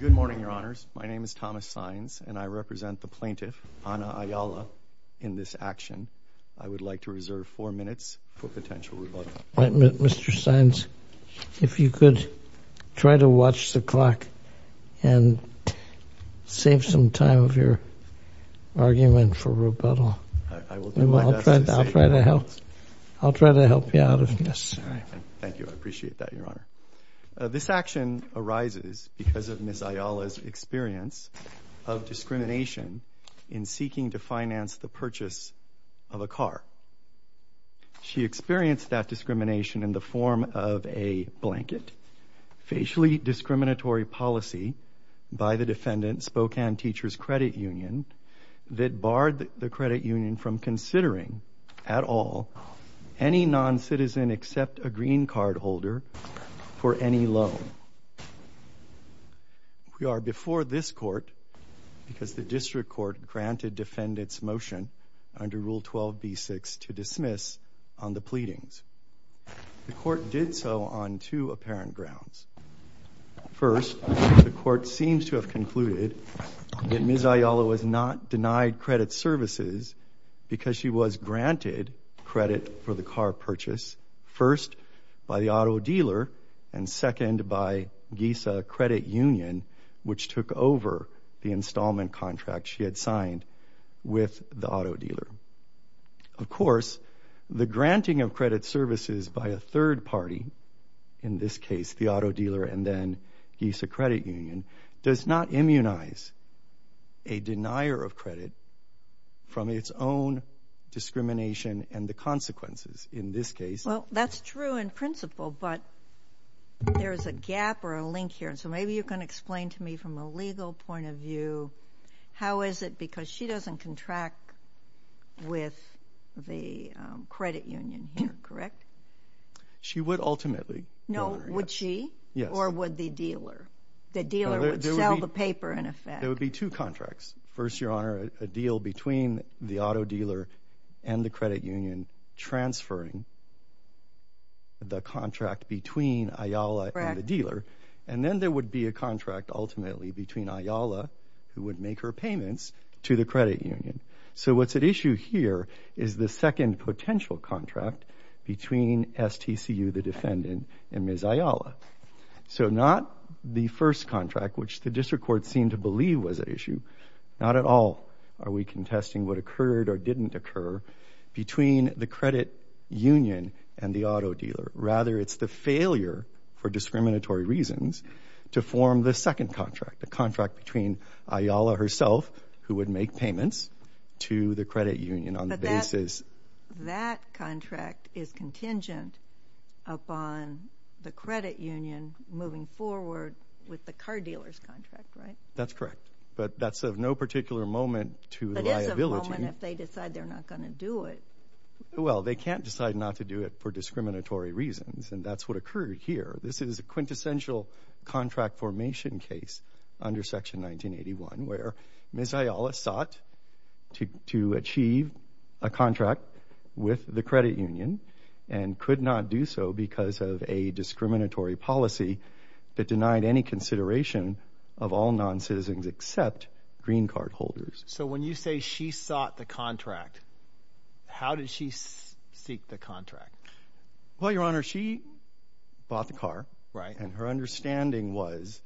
Good morning, Your Honors. My name is Thomas Sines and I represent the plaintiff, Ana Ayala, in this action. I would like to reserve four minutes for potential rebuttal. Mr. Sines, if you could try to watch the clock and save some time of your argument for rebuttal. I will do my best to save time. I'll try to help you out of this. Thank you. I appreciate that, Your Honor. This action arises because of Ms. Ayala's experience of discrimination in seeking to finance the purchase of a car. She experienced that discrimination in the form of a blanket, facially discriminatory policy by the defendant, Spokane Teachers Credit Union, that barred the credit union from considering at all any non-citizen except a green card holder for any loan. We are before this court because the district court granted defendants motion under Rule 12b-6 to dismiss on the pleadings. The court did so on two apparent grounds. First, the court seems to have concluded that Ms. Ayala was not denied credit services because she was granted credit for the car purchase, first by the auto dealer, and second by GISA Credit Union, which took over the installment contract she had signed with the auto dealer. Of course, the granting of credit services by a third party, in this case the auto dealer and then GISA Credit Union, does not immunize a denier of credit from its own discrimination and the consequences, in this case. Well, that's true in principle, but there's a gap or a link here. And so maybe you can explain to me from a legal point of view, how is it because she doesn't contract with the credit union here, correct? She would ultimately. No, would she? Yes. Or would the dealer? The dealer would sell the paper, in effect. There would be two contracts. First, Your Honor, a deal between the auto dealer and the credit union transferring the contract between Ayala and the dealer. And then there would be a contract, ultimately, between Ayala, who would make her payments, to the credit union. So what's at issue here is the second potential contract between STCU, the defendant, and Ms. Ayala. So not the first contract, which the district court seemed to believe was at issue. Not at all are we contesting what occurred or didn't occur between the credit union and the auto dealer. Rather, it's the failure, for discriminatory reasons, to form the second contract. The contract between Ayala herself, who would make payments, to the credit union on the basis. That contract is contingent upon the credit union moving forward with the car dealer's contract, right? That's correct. But that's of no particular moment to liability. But it's a moment if they decide they're not going to do it. Well, they can't decide not to do it for discriminatory reasons. And that's what occurred here. This is a quintessential contract formation case under Section 1981, where Ms. Ayala sought to achieve a contract with the credit union, and could not do so because of a discriminatory policy that denied any consideration of all non-citizens except green card holders. So when you say she sought the contract, how did she seek the contract? Well, Your Honor, she bought the car. And her understanding was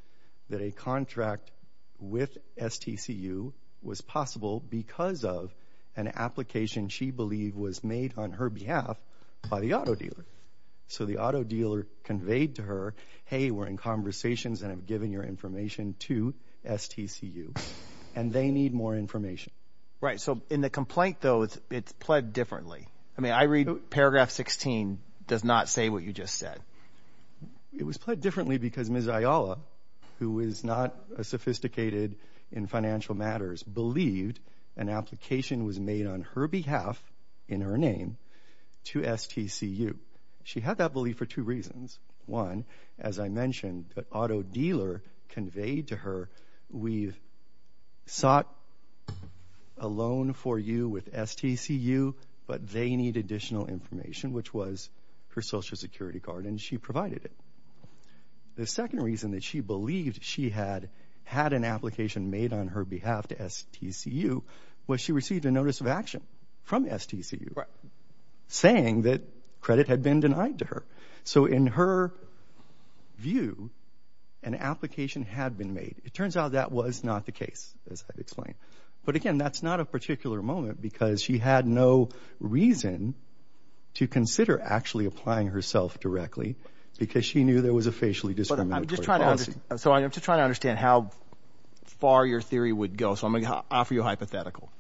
that a contract with STCU was possible because of an application she believed was made on her behalf by the auto dealer. So the auto dealer conveyed to her, hey, we're in conversations and have given your information to STCU, and they need more information. Right. So in the complaint, though, it's pled differently. I mean, I read paragraph 16 does not say what you just said. It was pled differently because Ms. Ayala, who is not sophisticated in financial matters, believed an application was made on her behalf in her name to STCU. She had that belief for two reasons. One, as I mentioned, the auto dealer conveyed to her, we've sought a loan for you with STCU, but they need additional information, which was her Social Security card, and she provided it. The second reason that she believed she had had an application made on her behalf to STCU was she received a notice of action from STCU saying that credit had been denied to her. So in her view, an application had been made. It turns out that was not the case, as I've explained. But again, that's not a particular moment because she had no reason to consider actually applying herself directly because she knew there was a facially discriminatory policy. So I'm just trying to understand how far your theory would go. So I'm going to offer you a hypothetical.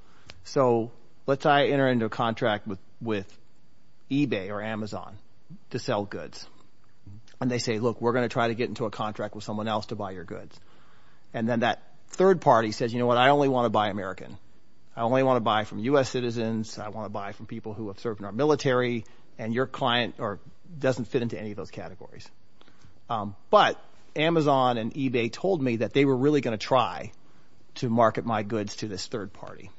So let's say I enter into a contract with eBay or Amazon to sell goods, and they say, look, we're going to try to get into a contract with someone else to buy your goods. And then that third party says, you know what? I only want to buy American. I only want to buy from U.S. citizens. I want to buy from people who have served in our military. And your client doesn't fit into any of those categories. But Amazon and eBay told me that they were really going to try to market my goods to this third party.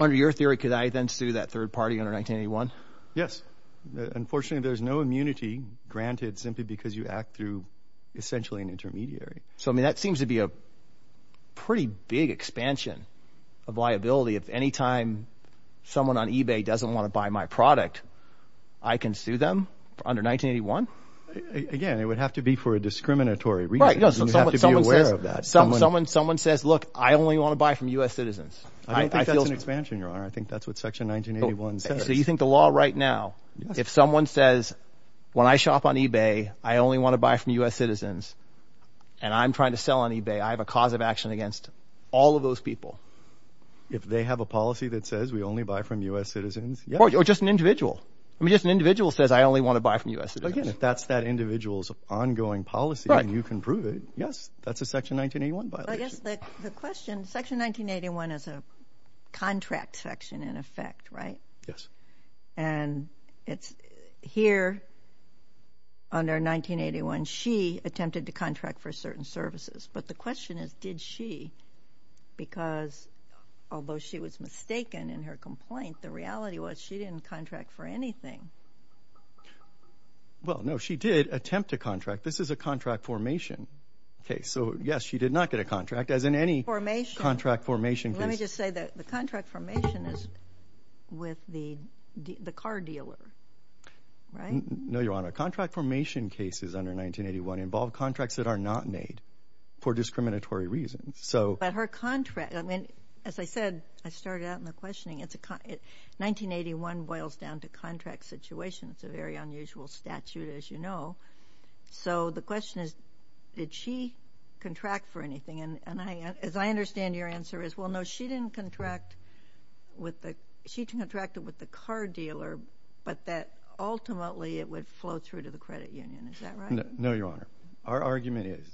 Under your theory, could I then sue that third party under 1981? Unfortunately, there's no immunity granted simply because you act through essentially an intermediary. So that seems to be a pretty big expansion of liability. If any time someone on eBay doesn't want to buy my product, I can sue them under 1981? Again, it would have to be for a discriminatory reason. You have to be aware of that. Someone says, look, I only want to buy from U.S. citizens. I don't think that's an expansion, Your Honor. I think that's what section 1981 says. So you think the law right now, if someone says when I shop on eBay, I only want to buy from U.S. citizens… When I'm trying to sell on eBay, I have a cause of action against all of those people. If they have a policy that says we only buy from U.S. citizens, yes. Or just an individual. I mean, just an individual says I only want to buy from U.S. citizens. Again, if that's that individual's ongoing policy and you can prove it, yes, that's a section 1981 violation. I guess the question, section 1981 is a contract section in effect, right? Yes. And it's here under 1981. She attempted to contract for certain services. But the question is, did she? Because although she was mistaken in her complaint, the reality was she didn't contract for anything. Well, no, she did attempt to contract. This is a contract formation case. So, yes, she did not get a contract, as in any contract formation case. I would just say that the contract formation is with the car dealer, right? No, Your Honor. Contract formation cases under 1981 involve contracts that are not made for discriminatory reasons. But her contract, I mean, as I said, I started out in the questioning, 1981 boils down to contract situation. It's a very unusual statute, as you know. So the question is, did she contract for anything? And as I understand your answer is, well, no, she didn't contract with the car dealer, but that ultimately it would flow through to the credit union. Is that right? No, Your Honor. Our argument is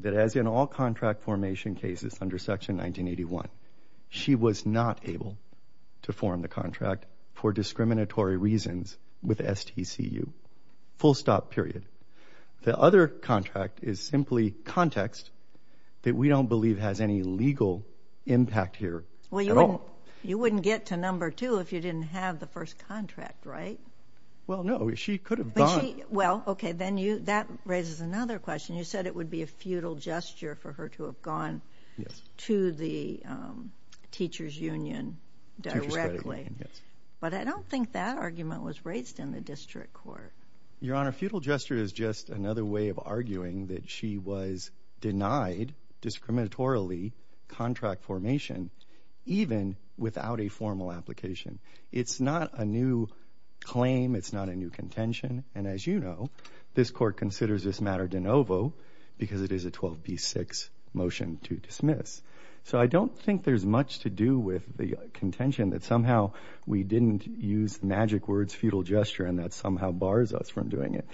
that as in all contract formation cases under section 1981, she was not able to form the contract for discriminatory reasons with STCU. Full stop, period. The other contract is simply context that we don't believe has any legal impact here at all. Well, you wouldn't get to number two if you didn't have the first contract, right? Well, no. She could have gone. Well, okay, then that raises another question. You said it would be a futile gesture for her to have gone to the teacher's union directly. But I don't think that argument was raised in the district court. Your Honor, futile gesture is just another way of arguing that she was denied discriminatorily contract formation even without a formal application. It's not a new claim. It's not a new contention. And as you know, this court considers this matter de novo because it is a 12B6 motion to dismiss. So I don't think there's much to do with the contention that somehow we didn't use the magic words futile gesture and that somehow bars us from doing it.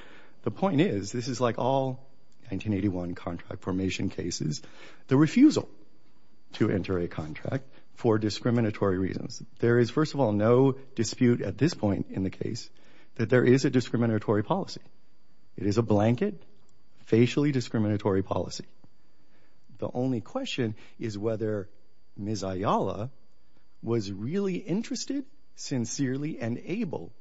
The point is, this is like all 1981 contract formation cases, the refusal to enter a contract for discriminatory reasons. There is, first of all, no dispute at this point in the case that there is a discriminatory policy. It is a blanket, facially discriminatory policy. The only question is whether Ms. Ayala was really interested, sincerely, and able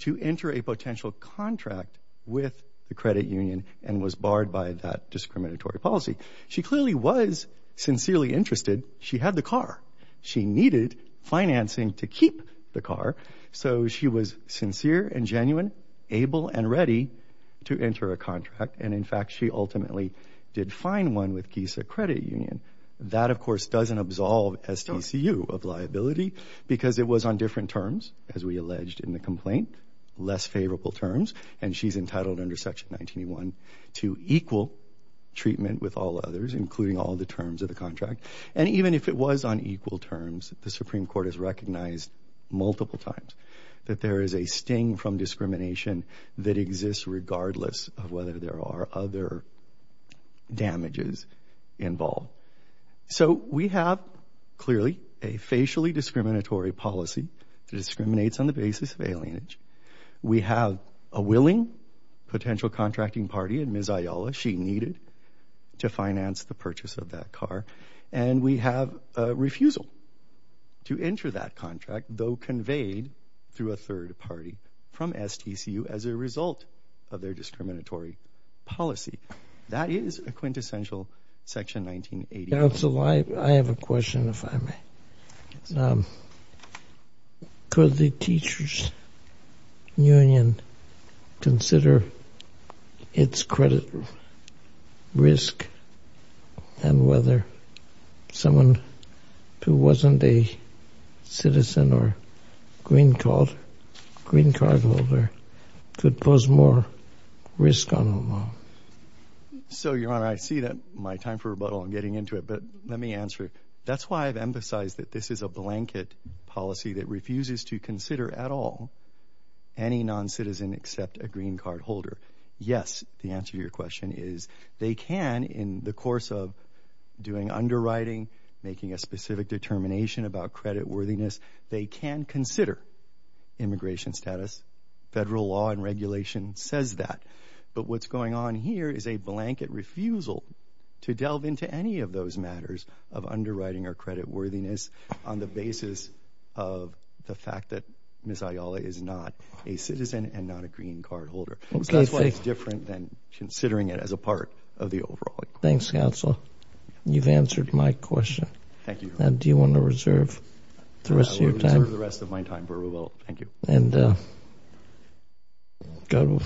to enter a potential contract with the credit union and was barred by that discriminatory policy. She clearly was sincerely interested. She had the car. She needed financing to keep the car. So she was sincere and genuine, able and ready to enter a contract. And, in fact, she ultimately did find one with GISA Credit Union. That, of course, doesn't absolve STCU of liability because it was on different terms, as we alleged in the complaint, less favorable terms, and she's entitled under Section 1981 to equal treatment with all others, including all the terms of the contract. And even if it was on equal terms, the Supreme Court has recognized multiple times that there is a sting from discrimination that exists regardless of whether there are other damages involved. So we have, clearly, a facially discriminatory policy that discriminates on the basis of alienage. We have a willing potential contracting party in Ms. Ayala. She needed to finance the purchase of that car. And we have a refusal to enter that contract, though conveyed through a third party from STCU, as a result of their discriminatory policy. That is a quintessential Section 1981. Counsel, I have a question, if I may. Could the teachers' union consider its credit risk and whether someone who wasn't a citizen or green card holder could pose more risk on the law? So, Your Honor, I see that my time for rebuttal, I'm getting into it, but let me answer it. That's why I've emphasized that this is a blanket policy that refuses to consider at all any non-citizen except a green card holder. Yes, the answer to your question is they can in the course of doing underwriting, making a specific determination about credit worthiness, they can consider immigration status. Federal law and regulation says that. But what's going on here is a blanket refusal to delve into any of those matters of underwriting or credit worthiness on the basis of the fact that Ms. Ayala is not a citizen and not a green card holder. That's why it's different than considering it as a part of the overall. Thanks, Counsel. You've answered my question. Thank you, Your Honor. Do you want to reserve the rest of your time? I will reserve the rest of my time for rebuttal. Thank you. And go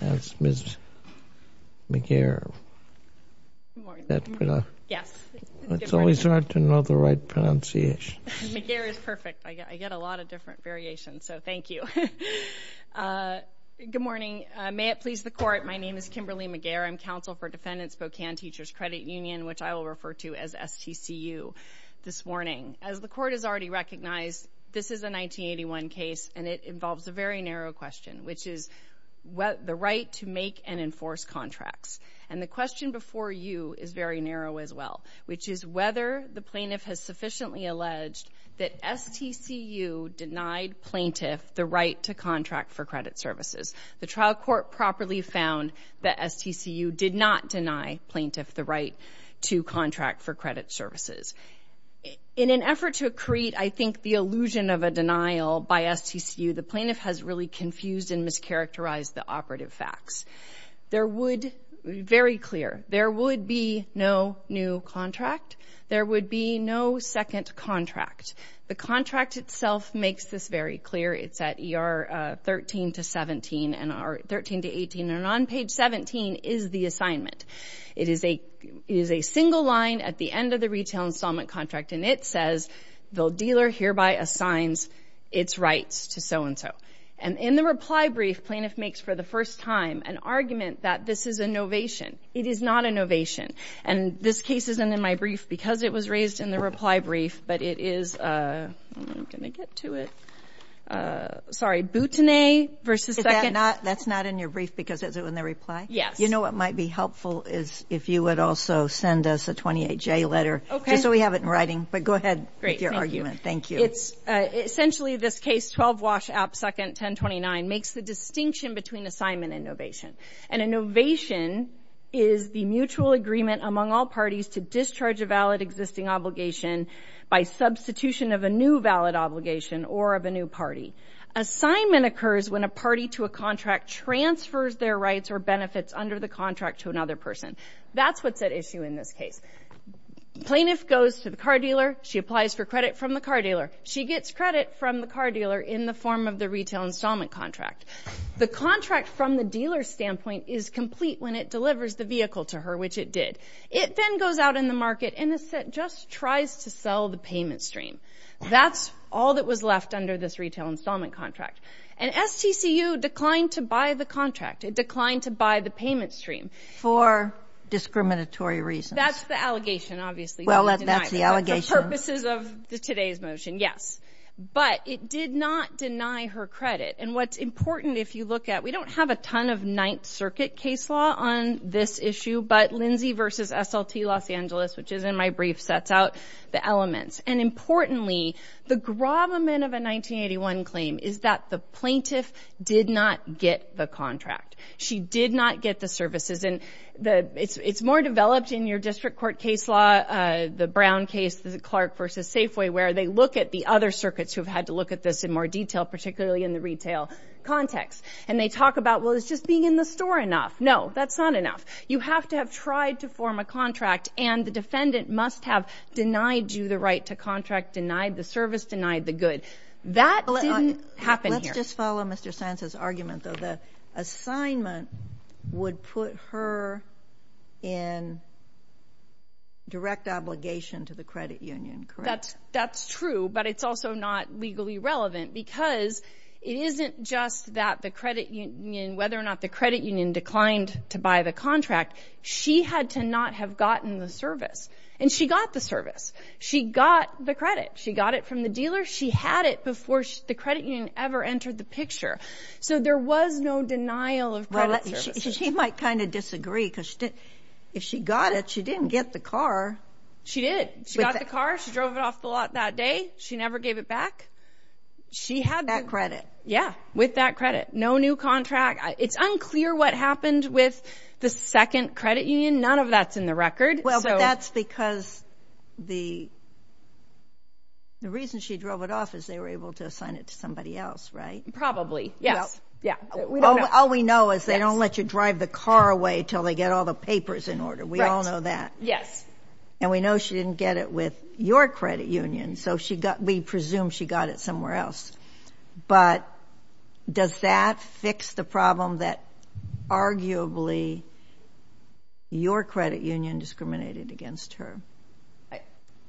to Ms. McGair. Yes. It's always hard to know the right pronunciation. McGair is perfect. I get a lot of different variations, so thank you. Good morning. May it please the Court, my name is Kimberly McGair. I'm counsel for Defendant Spokane Teachers Credit Union, which I will refer to as STCU, this morning. As the Court has already recognized, this is a 1981 case, and it involves a very narrow question, which is the right to make and enforce contracts. And the question before you is very narrow as well, which is whether the plaintiff has sufficiently alleged that STCU denied plaintiff the right to contract for credit services. The trial court properly found that STCU did not deny plaintiff the right to contract for credit services. In an effort to create, I think, the illusion of a denial by STCU, the plaintiff has really confused and mischaracterized the operative facts. Very clear, there would be no new contract. There would be no second contract. The contract itself makes this very clear. It's at ER 13 to 18, and on page 17 is the assignment. It is a single line at the end of the retail installment contract, and it says, the dealer hereby assigns its rights to so-and-so. And in the reply brief, plaintiff makes, for the first time, an argument that this is a novation. It is not a novation, and this case isn't in my brief because it was raised in the reply brief, but it is ‑‑ I'm not going to get to it. Sorry, Boutinay v. Seconds. Is that not ‑‑ that's not in your brief because it was in the reply? Yes. You know what might be helpful is if you would also send us a 28J letter. Okay. Just so we have it in writing. But go ahead with your argument. Thank you. Essentially, this case, 12 Walsh, App. 2nd, 1029, makes the distinction between assignment and novation. And a novation is the mutual agreement among all parties to discharge a valid existing obligation by substitution of a new valid obligation or of a new party. Assignment occurs when a party to a contract transfers their rights or benefits under the contract to another person. That's what's at issue in this case. Plaintiff goes to the car dealer. She applies for credit from the car dealer. She gets credit from the car dealer in the form of the retail installment contract. The contract from the dealer's standpoint is complete when it delivers the vehicle to her, which it did. It then goes out in the market and just tries to sell the payment stream. That's all that was left under this retail installment contract. And STCU declined to buy the contract. It declined to buy the payment stream. For discriminatory reasons. That's the allegation, obviously. Well, that's the allegation. That's the purposes of today's motion, yes. But it did not deny her credit. And what's important if you look at, we don't have a ton of Ninth Circuit case law on this issue, but Lindsay v. SLT Los Angeles, which is in my brief, sets out the elements. And importantly, the gravamen of a 1981 claim is that the plaintiff did not get the contract. She did not get the services. And it's more developed in your district court case law, the Brown case, the Clark v. Safeway, where they look at the other circuits who have had to look at this in more detail, particularly in the retail context. And they talk about, well, it's just being in the store enough. No, that's not enough. You have to have tried to form a contract, and the defendant must have denied you the right to contract, denied the service, denied the good. That didn't happen here. Let's just follow Mr. Sands' argument, though. The assignment would put her in direct obligation to the credit union, correct? That's true, but it's also not legally relevant, because it isn't just that the credit union, whether or not the credit union declined to buy the contract. She had to not have gotten the service. And she got the service. She got the credit. She got it from the dealer. She had it before the credit union ever entered the picture. So there was no denial of credit services. She might kind of disagree, because if she got it, she didn't get the car. She did. She got the car. She drove it off the lot that day. She never gave it back. She had that credit. Yeah, with that credit. No new contract. It's unclear what happened with the second credit union. None of that's in the record. Well, but that's because the reason she drove it off is they were able to assign it to somebody else, right? Probably, yes. All we know is they don't let you drive the car away until they get all the papers in order. We all know that. Yes. And we know she didn't get it with your credit union, so we presume she got it somewhere else. But does that fix the problem that arguably your credit union discriminated against her?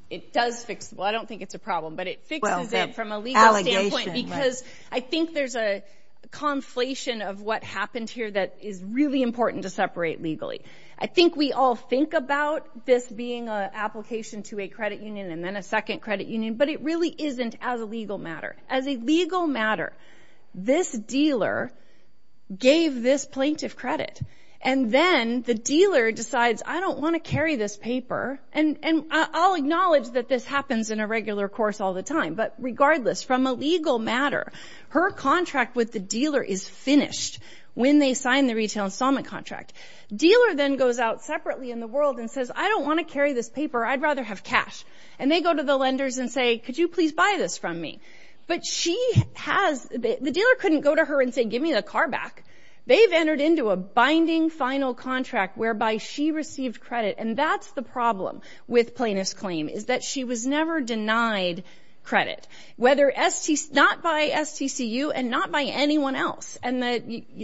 It does fix it. Well, I don't think it's a problem, but it fixes it from a legal standpoint. Allegation. Because I think there's a conflation of what happened here that is really important to separate legally. I think we all think about this being an application to a credit union and then a second credit union, but it really isn't as a legal matter. As a legal matter, this dealer gave this plaintiff credit, and then the dealer decides, I don't want to carry this paper. And I'll acknowledge that this happens in a regular course all the time, but regardless, from a legal matter, her contract with the dealer is finished when they sign the retail installment contract. Dealer then goes out separately in the world and says, I don't want to carry this paper. I'd rather have cash. And they go to the lenders and say, could you please buy this from me? But she has the dealer couldn't go to her and say, give me the car back. They've entered into a binding final contract whereby she received credit, and that's the problem with plaintiff's claim is that she was never denied credit, whether not by STCU and not by anyone else. And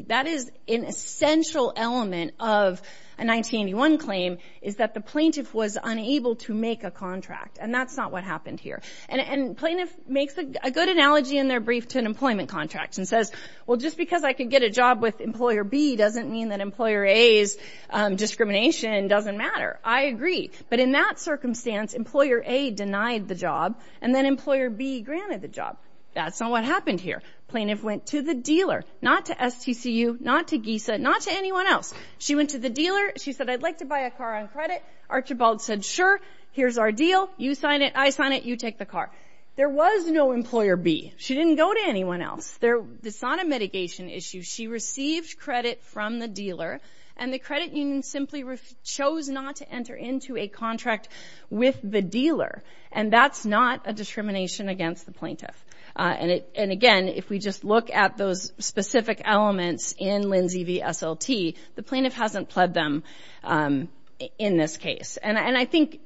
that is an essential element of a 1981 claim is that the plaintiff was unable to make a contract, and that's not what happened here. And plaintiff makes a good analogy in their brief to an employment contract and says, well, just because I can get a job with Employer B doesn't mean that Employer A's discrimination doesn't matter. I agree. But in that circumstance, Employer A denied the job, and then Employer B granted the job. That's not what happened here. Plaintiff went to the dealer, not to STCU, not to GISA, not to anyone else. She went to the dealer. She said, I'd like to buy a car on credit. Archibald said, sure. Here's our deal. You sign it. I sign it. You take the car. There was no Employer B. She didn't go to anyone else. It's not a mitigation issue. She received credit from the dealer, and the credit union simply chose not to enter into a contract with the dealer, and that's not a discrimination against the plaintiff. And, again, if we just look at those specific elements in Lindsay v. SLT, the plaintiff hasn't pled them in this case. And I think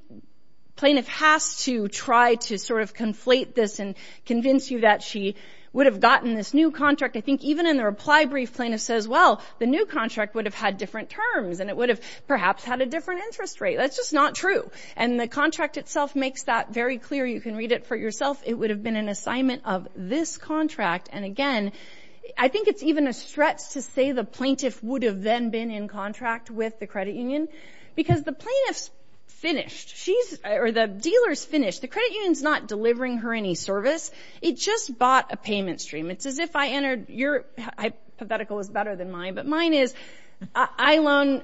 plaintiff has to try to sort of conflate this and convince you that she would have gotten this new contract. I think even in the reply brief, plaintiff says, well, the new contract would have had different terms, and it would have perhaps had a different interest rate. That's just not true. And the contract itself makes that very clear. You can read it for yourself. It would have been an assignment of this contract. And, again, I think it's even a stretch to say the plaintiff would have then been in contract with the credit union because the plaintiff's finished, or the dealer's finished. The credit union's not delivering her any service. It just bought a payment stream. It's as if I entered your – hypothetical was better than mine, but mine is I loan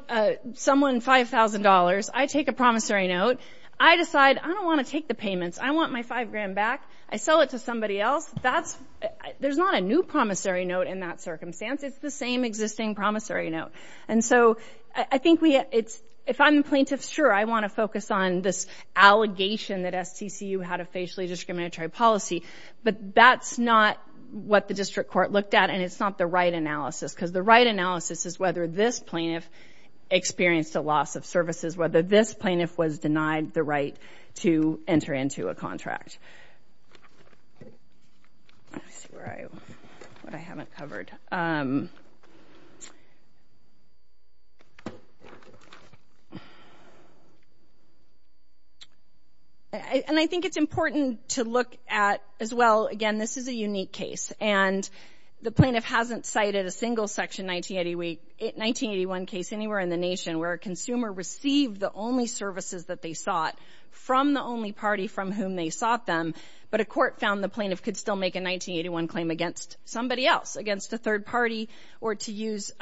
someone $5,000. I take a promissory note. I decide I don't want to take the payments. I want my $5,000 back. I sell it to somebody else. That's – there's not a new promissory note in that circumstance. It's the same existing promissory note. And so I think we – it's – if I'm plaintiff, sure, I want to focus on this allegation that STCU had a facially discriminatory policy, but that's not what the district court looked at, and it's not the right analysis because the right analysis is whether this plaintiff experienced a loss of services, whether this plaintiff was denied the right to enter into a contract. Let's see where I – what I haven't covered. And I think it's important to look at, as well, again, this is a unique case, and the plaintiff hasn't cited a single Section 1981 case anywhere in the nation where a consumer received the only services that they sought from the only party from whom they sought them, but a court found the plaintiff could still make a 1981 claim against somebody else, against a third party, or to use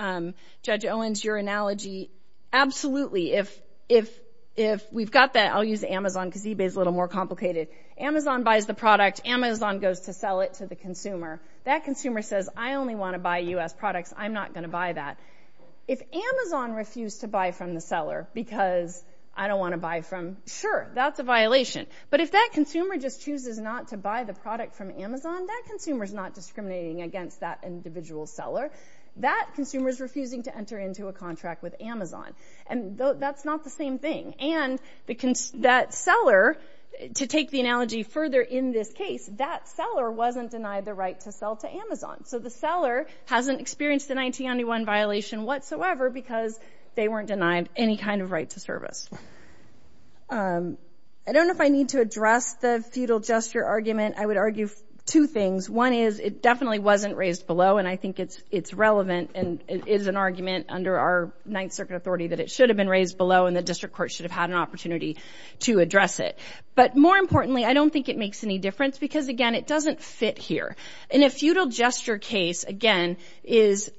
Judge Owens, your analogy, absolutely. If we've got that – I'll use Amazon because eBay is a little more complicated. Amazon buys the product. Amazon goes to sell it to the consumer. That consumer says, I only want to buy U.S. products. I'm not going to buy that. If Amazon refused to buy from the seller because I don't want to buy from – sure, that's a violation, but if that consumer just chooses not to buy the product from Amazon, that consumer is not discriminating against that individual seller. That consumer is refusing to enter into a contract with Amazon, and that's not the same thing. And that seller, to take the analogy further in this case, that seller wasn't denied the right to sell to Amazon, so the seller hasn't experienced the 1991 violation whatsoever because they weren't denied any kind of right to service. I don't know if I need to address the feudal gesture argument. I would argue two things. One is it definitely wasn't raised below, and I think it's relevant and is an argument under our Ninth Circuit authority that it should have been raised below and the district court should have had an opportunity to address it. But more importantly, I don't think it makes any difference because, again, it doesn't fit here. In a feudal gesture case, again, is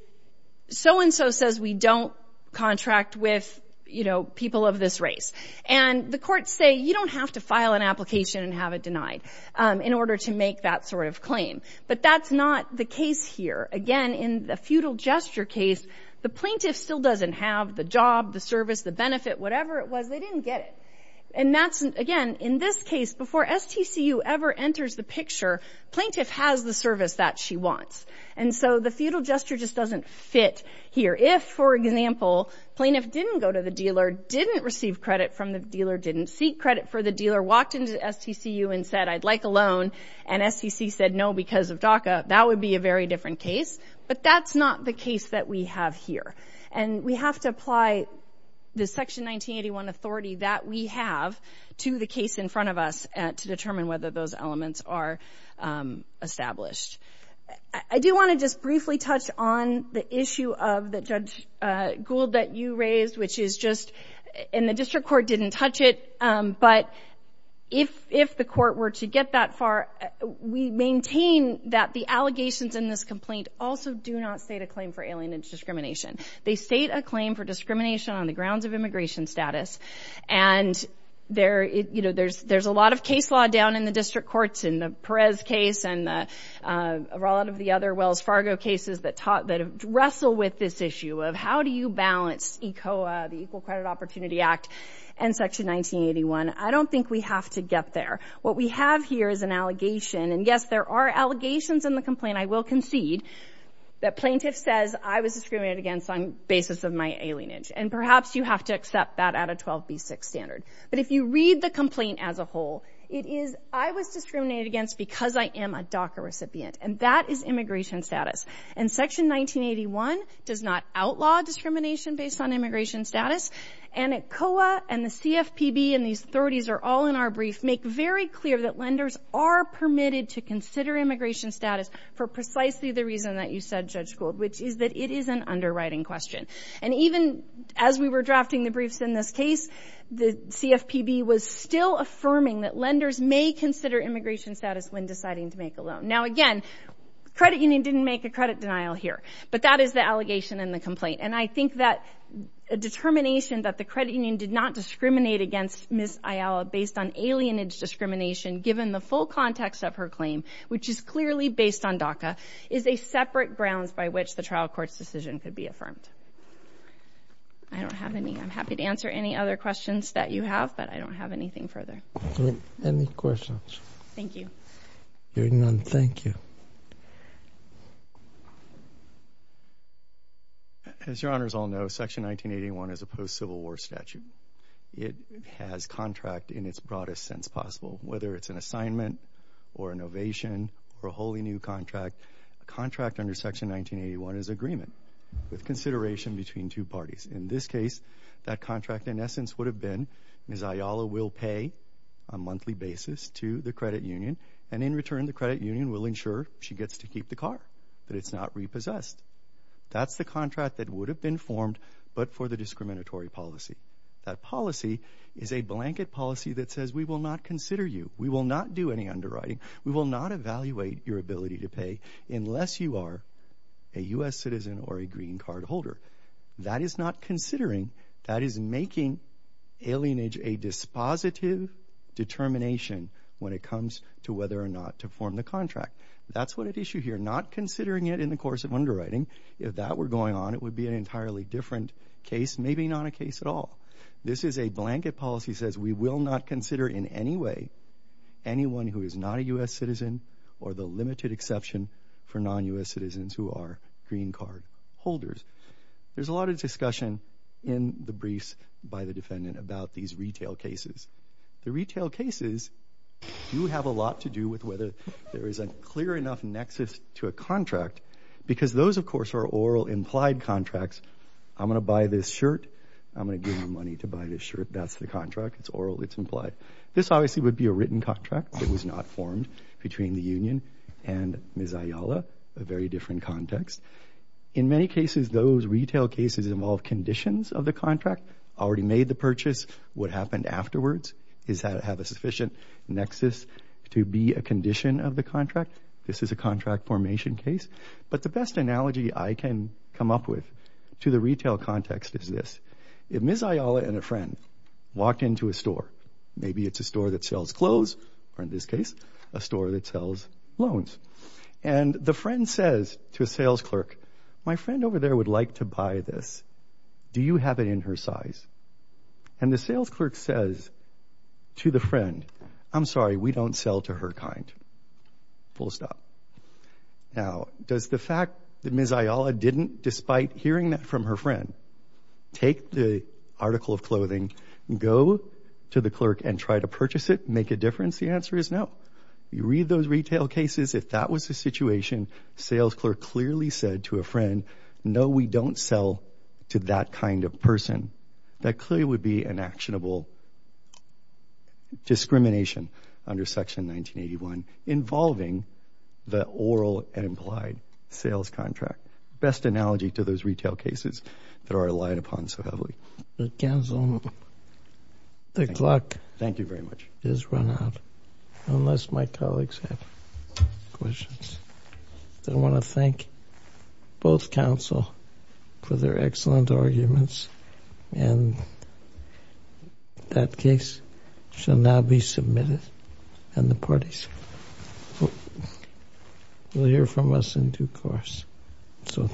so-and-so says we don't contract with people of this race, and the courts say you don't have to file an application and have it denied in order to make that sort of claim. But that's not the case here. Again, in the feudal gesture case, the plaintiff still doesn't have the job, the service, the benefit, whatever it was, they didn't get it. And that's, again, in this case, before STCU ever enters the picture, plaintiff has the service that she wants. And so the feudal gesture just doesn't fit here. If, for example, plaintiff didn't go to the dealer, didn't receive credit from the dealer, didn't seek credit for the dealer, walked into STCU and said, I'd like a loan, and STC said no because of DACA, that would be a very different case. But that's not the case that we have here. And we have to apply the Section 1981 authority that we have to the case in front of us to determine whether those elements are established. I do want to just briefly touch on the issue of the Judge Gould that you raised, which is just, and the district court didn't touch it, but if the court were to get that far, we maintain that the allegations in this complaint also do not state a claim for alienage discrimination. They state a claim for discrimination on the grounds of immigration status. And there's a lot of case law down in the district courts in the Perez case and a lot of the other Wells Fargo cases that wrestle with this issue of how do you balance ECOA, the Equal Credit Opportunity Act, and Section 1981. I don't think we have to get there. What we have here is an allegation, and yes, there are allegations in the complaint, I will concede, that plaintiff says, I was discriminated against on the basis of my alienage. And perhaps you have to accept that at a 12B6 standard. But if you read the complaint as a whole, it is, I was discriminated against because I am a DACA recipient. And that is immigration status. And Section 1981 does not outlaw discrimination based on immigration status. And ECOA and the CFPB, and these authorities are all in our brief, make very clear that lenders are permitted to consider immigration status for precisely the reason that you said, Judge Gould, which is that it is an underwriting question. And even as we were drafting the briefs in this case, the CFPB was still affirming that lenders may consider immigration status when deciding to make a loan. Now, again, credit union didn't make a credit denial here. But that is the allegation in the complaint. And I think that a determination that the credit union did not discriminate against Ms. Ayala based on alienage discrimination, given the full context of her claim, which is clearly based on DACA, is a separate grounds by which the trial court's decision could be affirmed. I don't have any. I'm happy to answer any other questions that you have, but I don't have anything further. Any questions? Thank you. Hearing none, thank you. As your honors all know, Section 1981 is a post-Civil War statute. It has contract in its broadest sense possible. Whether it's an assignment or an ovation or a wholly new contract, a contract under Section 1981 is agreement with consideration between two parties. In this case, that contract in essence would have been Ms. Ayala will pay a monthly basis to the credit union, and in return the credit union will ensure she gets to keep the car, but it's not repossessed. That's the contract that would have been formed but for the discriminatory policy. That policy is a blanket policy that says we will not consider you, we will not do any underwriting, we will not evaluate your ability to pay unless you are a U.S. citizen or a green card holder. That is not considering, that is making alienage a dispositive determination when it comes to whether or not to form the contract. That's what at issue here, not considering it in the course of underwriting. If that were going on, it would be an entirely different case, maybe not a case at all. This is a blanket policy that says we will not consider in any way anyone who is not a U.S. citizen or the limited exception for non-U.S. citizens who are green card holders. There's a lot of discussion in the briefs by the defendant about these retail cases. The retail cases do have a lot to do with whether there is a clear enough nexus to a contract because those of course are oral implied contracts. I'm going to buy this shirt, I'm going to give you money to buy this shirt. That's the contract, it's oral, it's implied. This obviously would be a written contract that was not formed between the union and Ms. Ayala, a very different context. In many cases, those retail cases involve conditions of the contract, already made the purchase. What happened afterwards is that it had a sufficient nexus to be a condition of the contract. This is a contract formation case. But the best analogy I can come up with to the retail context is this. If Ms. Ayala and a friend walked into a store, maybe it's a store that sells clothes, or in this case, a store that sells loans, and the friend says to a sales clerk, my friend over there would like to buy this, do you have it in her size? And the sales clerk says to the friend, I'm sorry, we don't sell to her kind. Full stop. Now, does the fact that Ms. Ayala didn't, despite hearing that from her friend, take the article of clothing, go to the clerk and try to purchase it, make a difference? The answer is no. You read those retail cases, if that was the situation, sales clerk clearly said to a friend, no, we don't sell to that kind of person. That clearly would be an actionable discrimination under Section 1981 involving the oral and implied sales contract. Best analogy to those retail cases that are relied upon so heavily. Counsel, the clock has run out, unless my colleagues have questions. I want to thank both counsel for their excellent arguments, and that case shall now be submitted, and the parties will hear from us in due course. So thank you.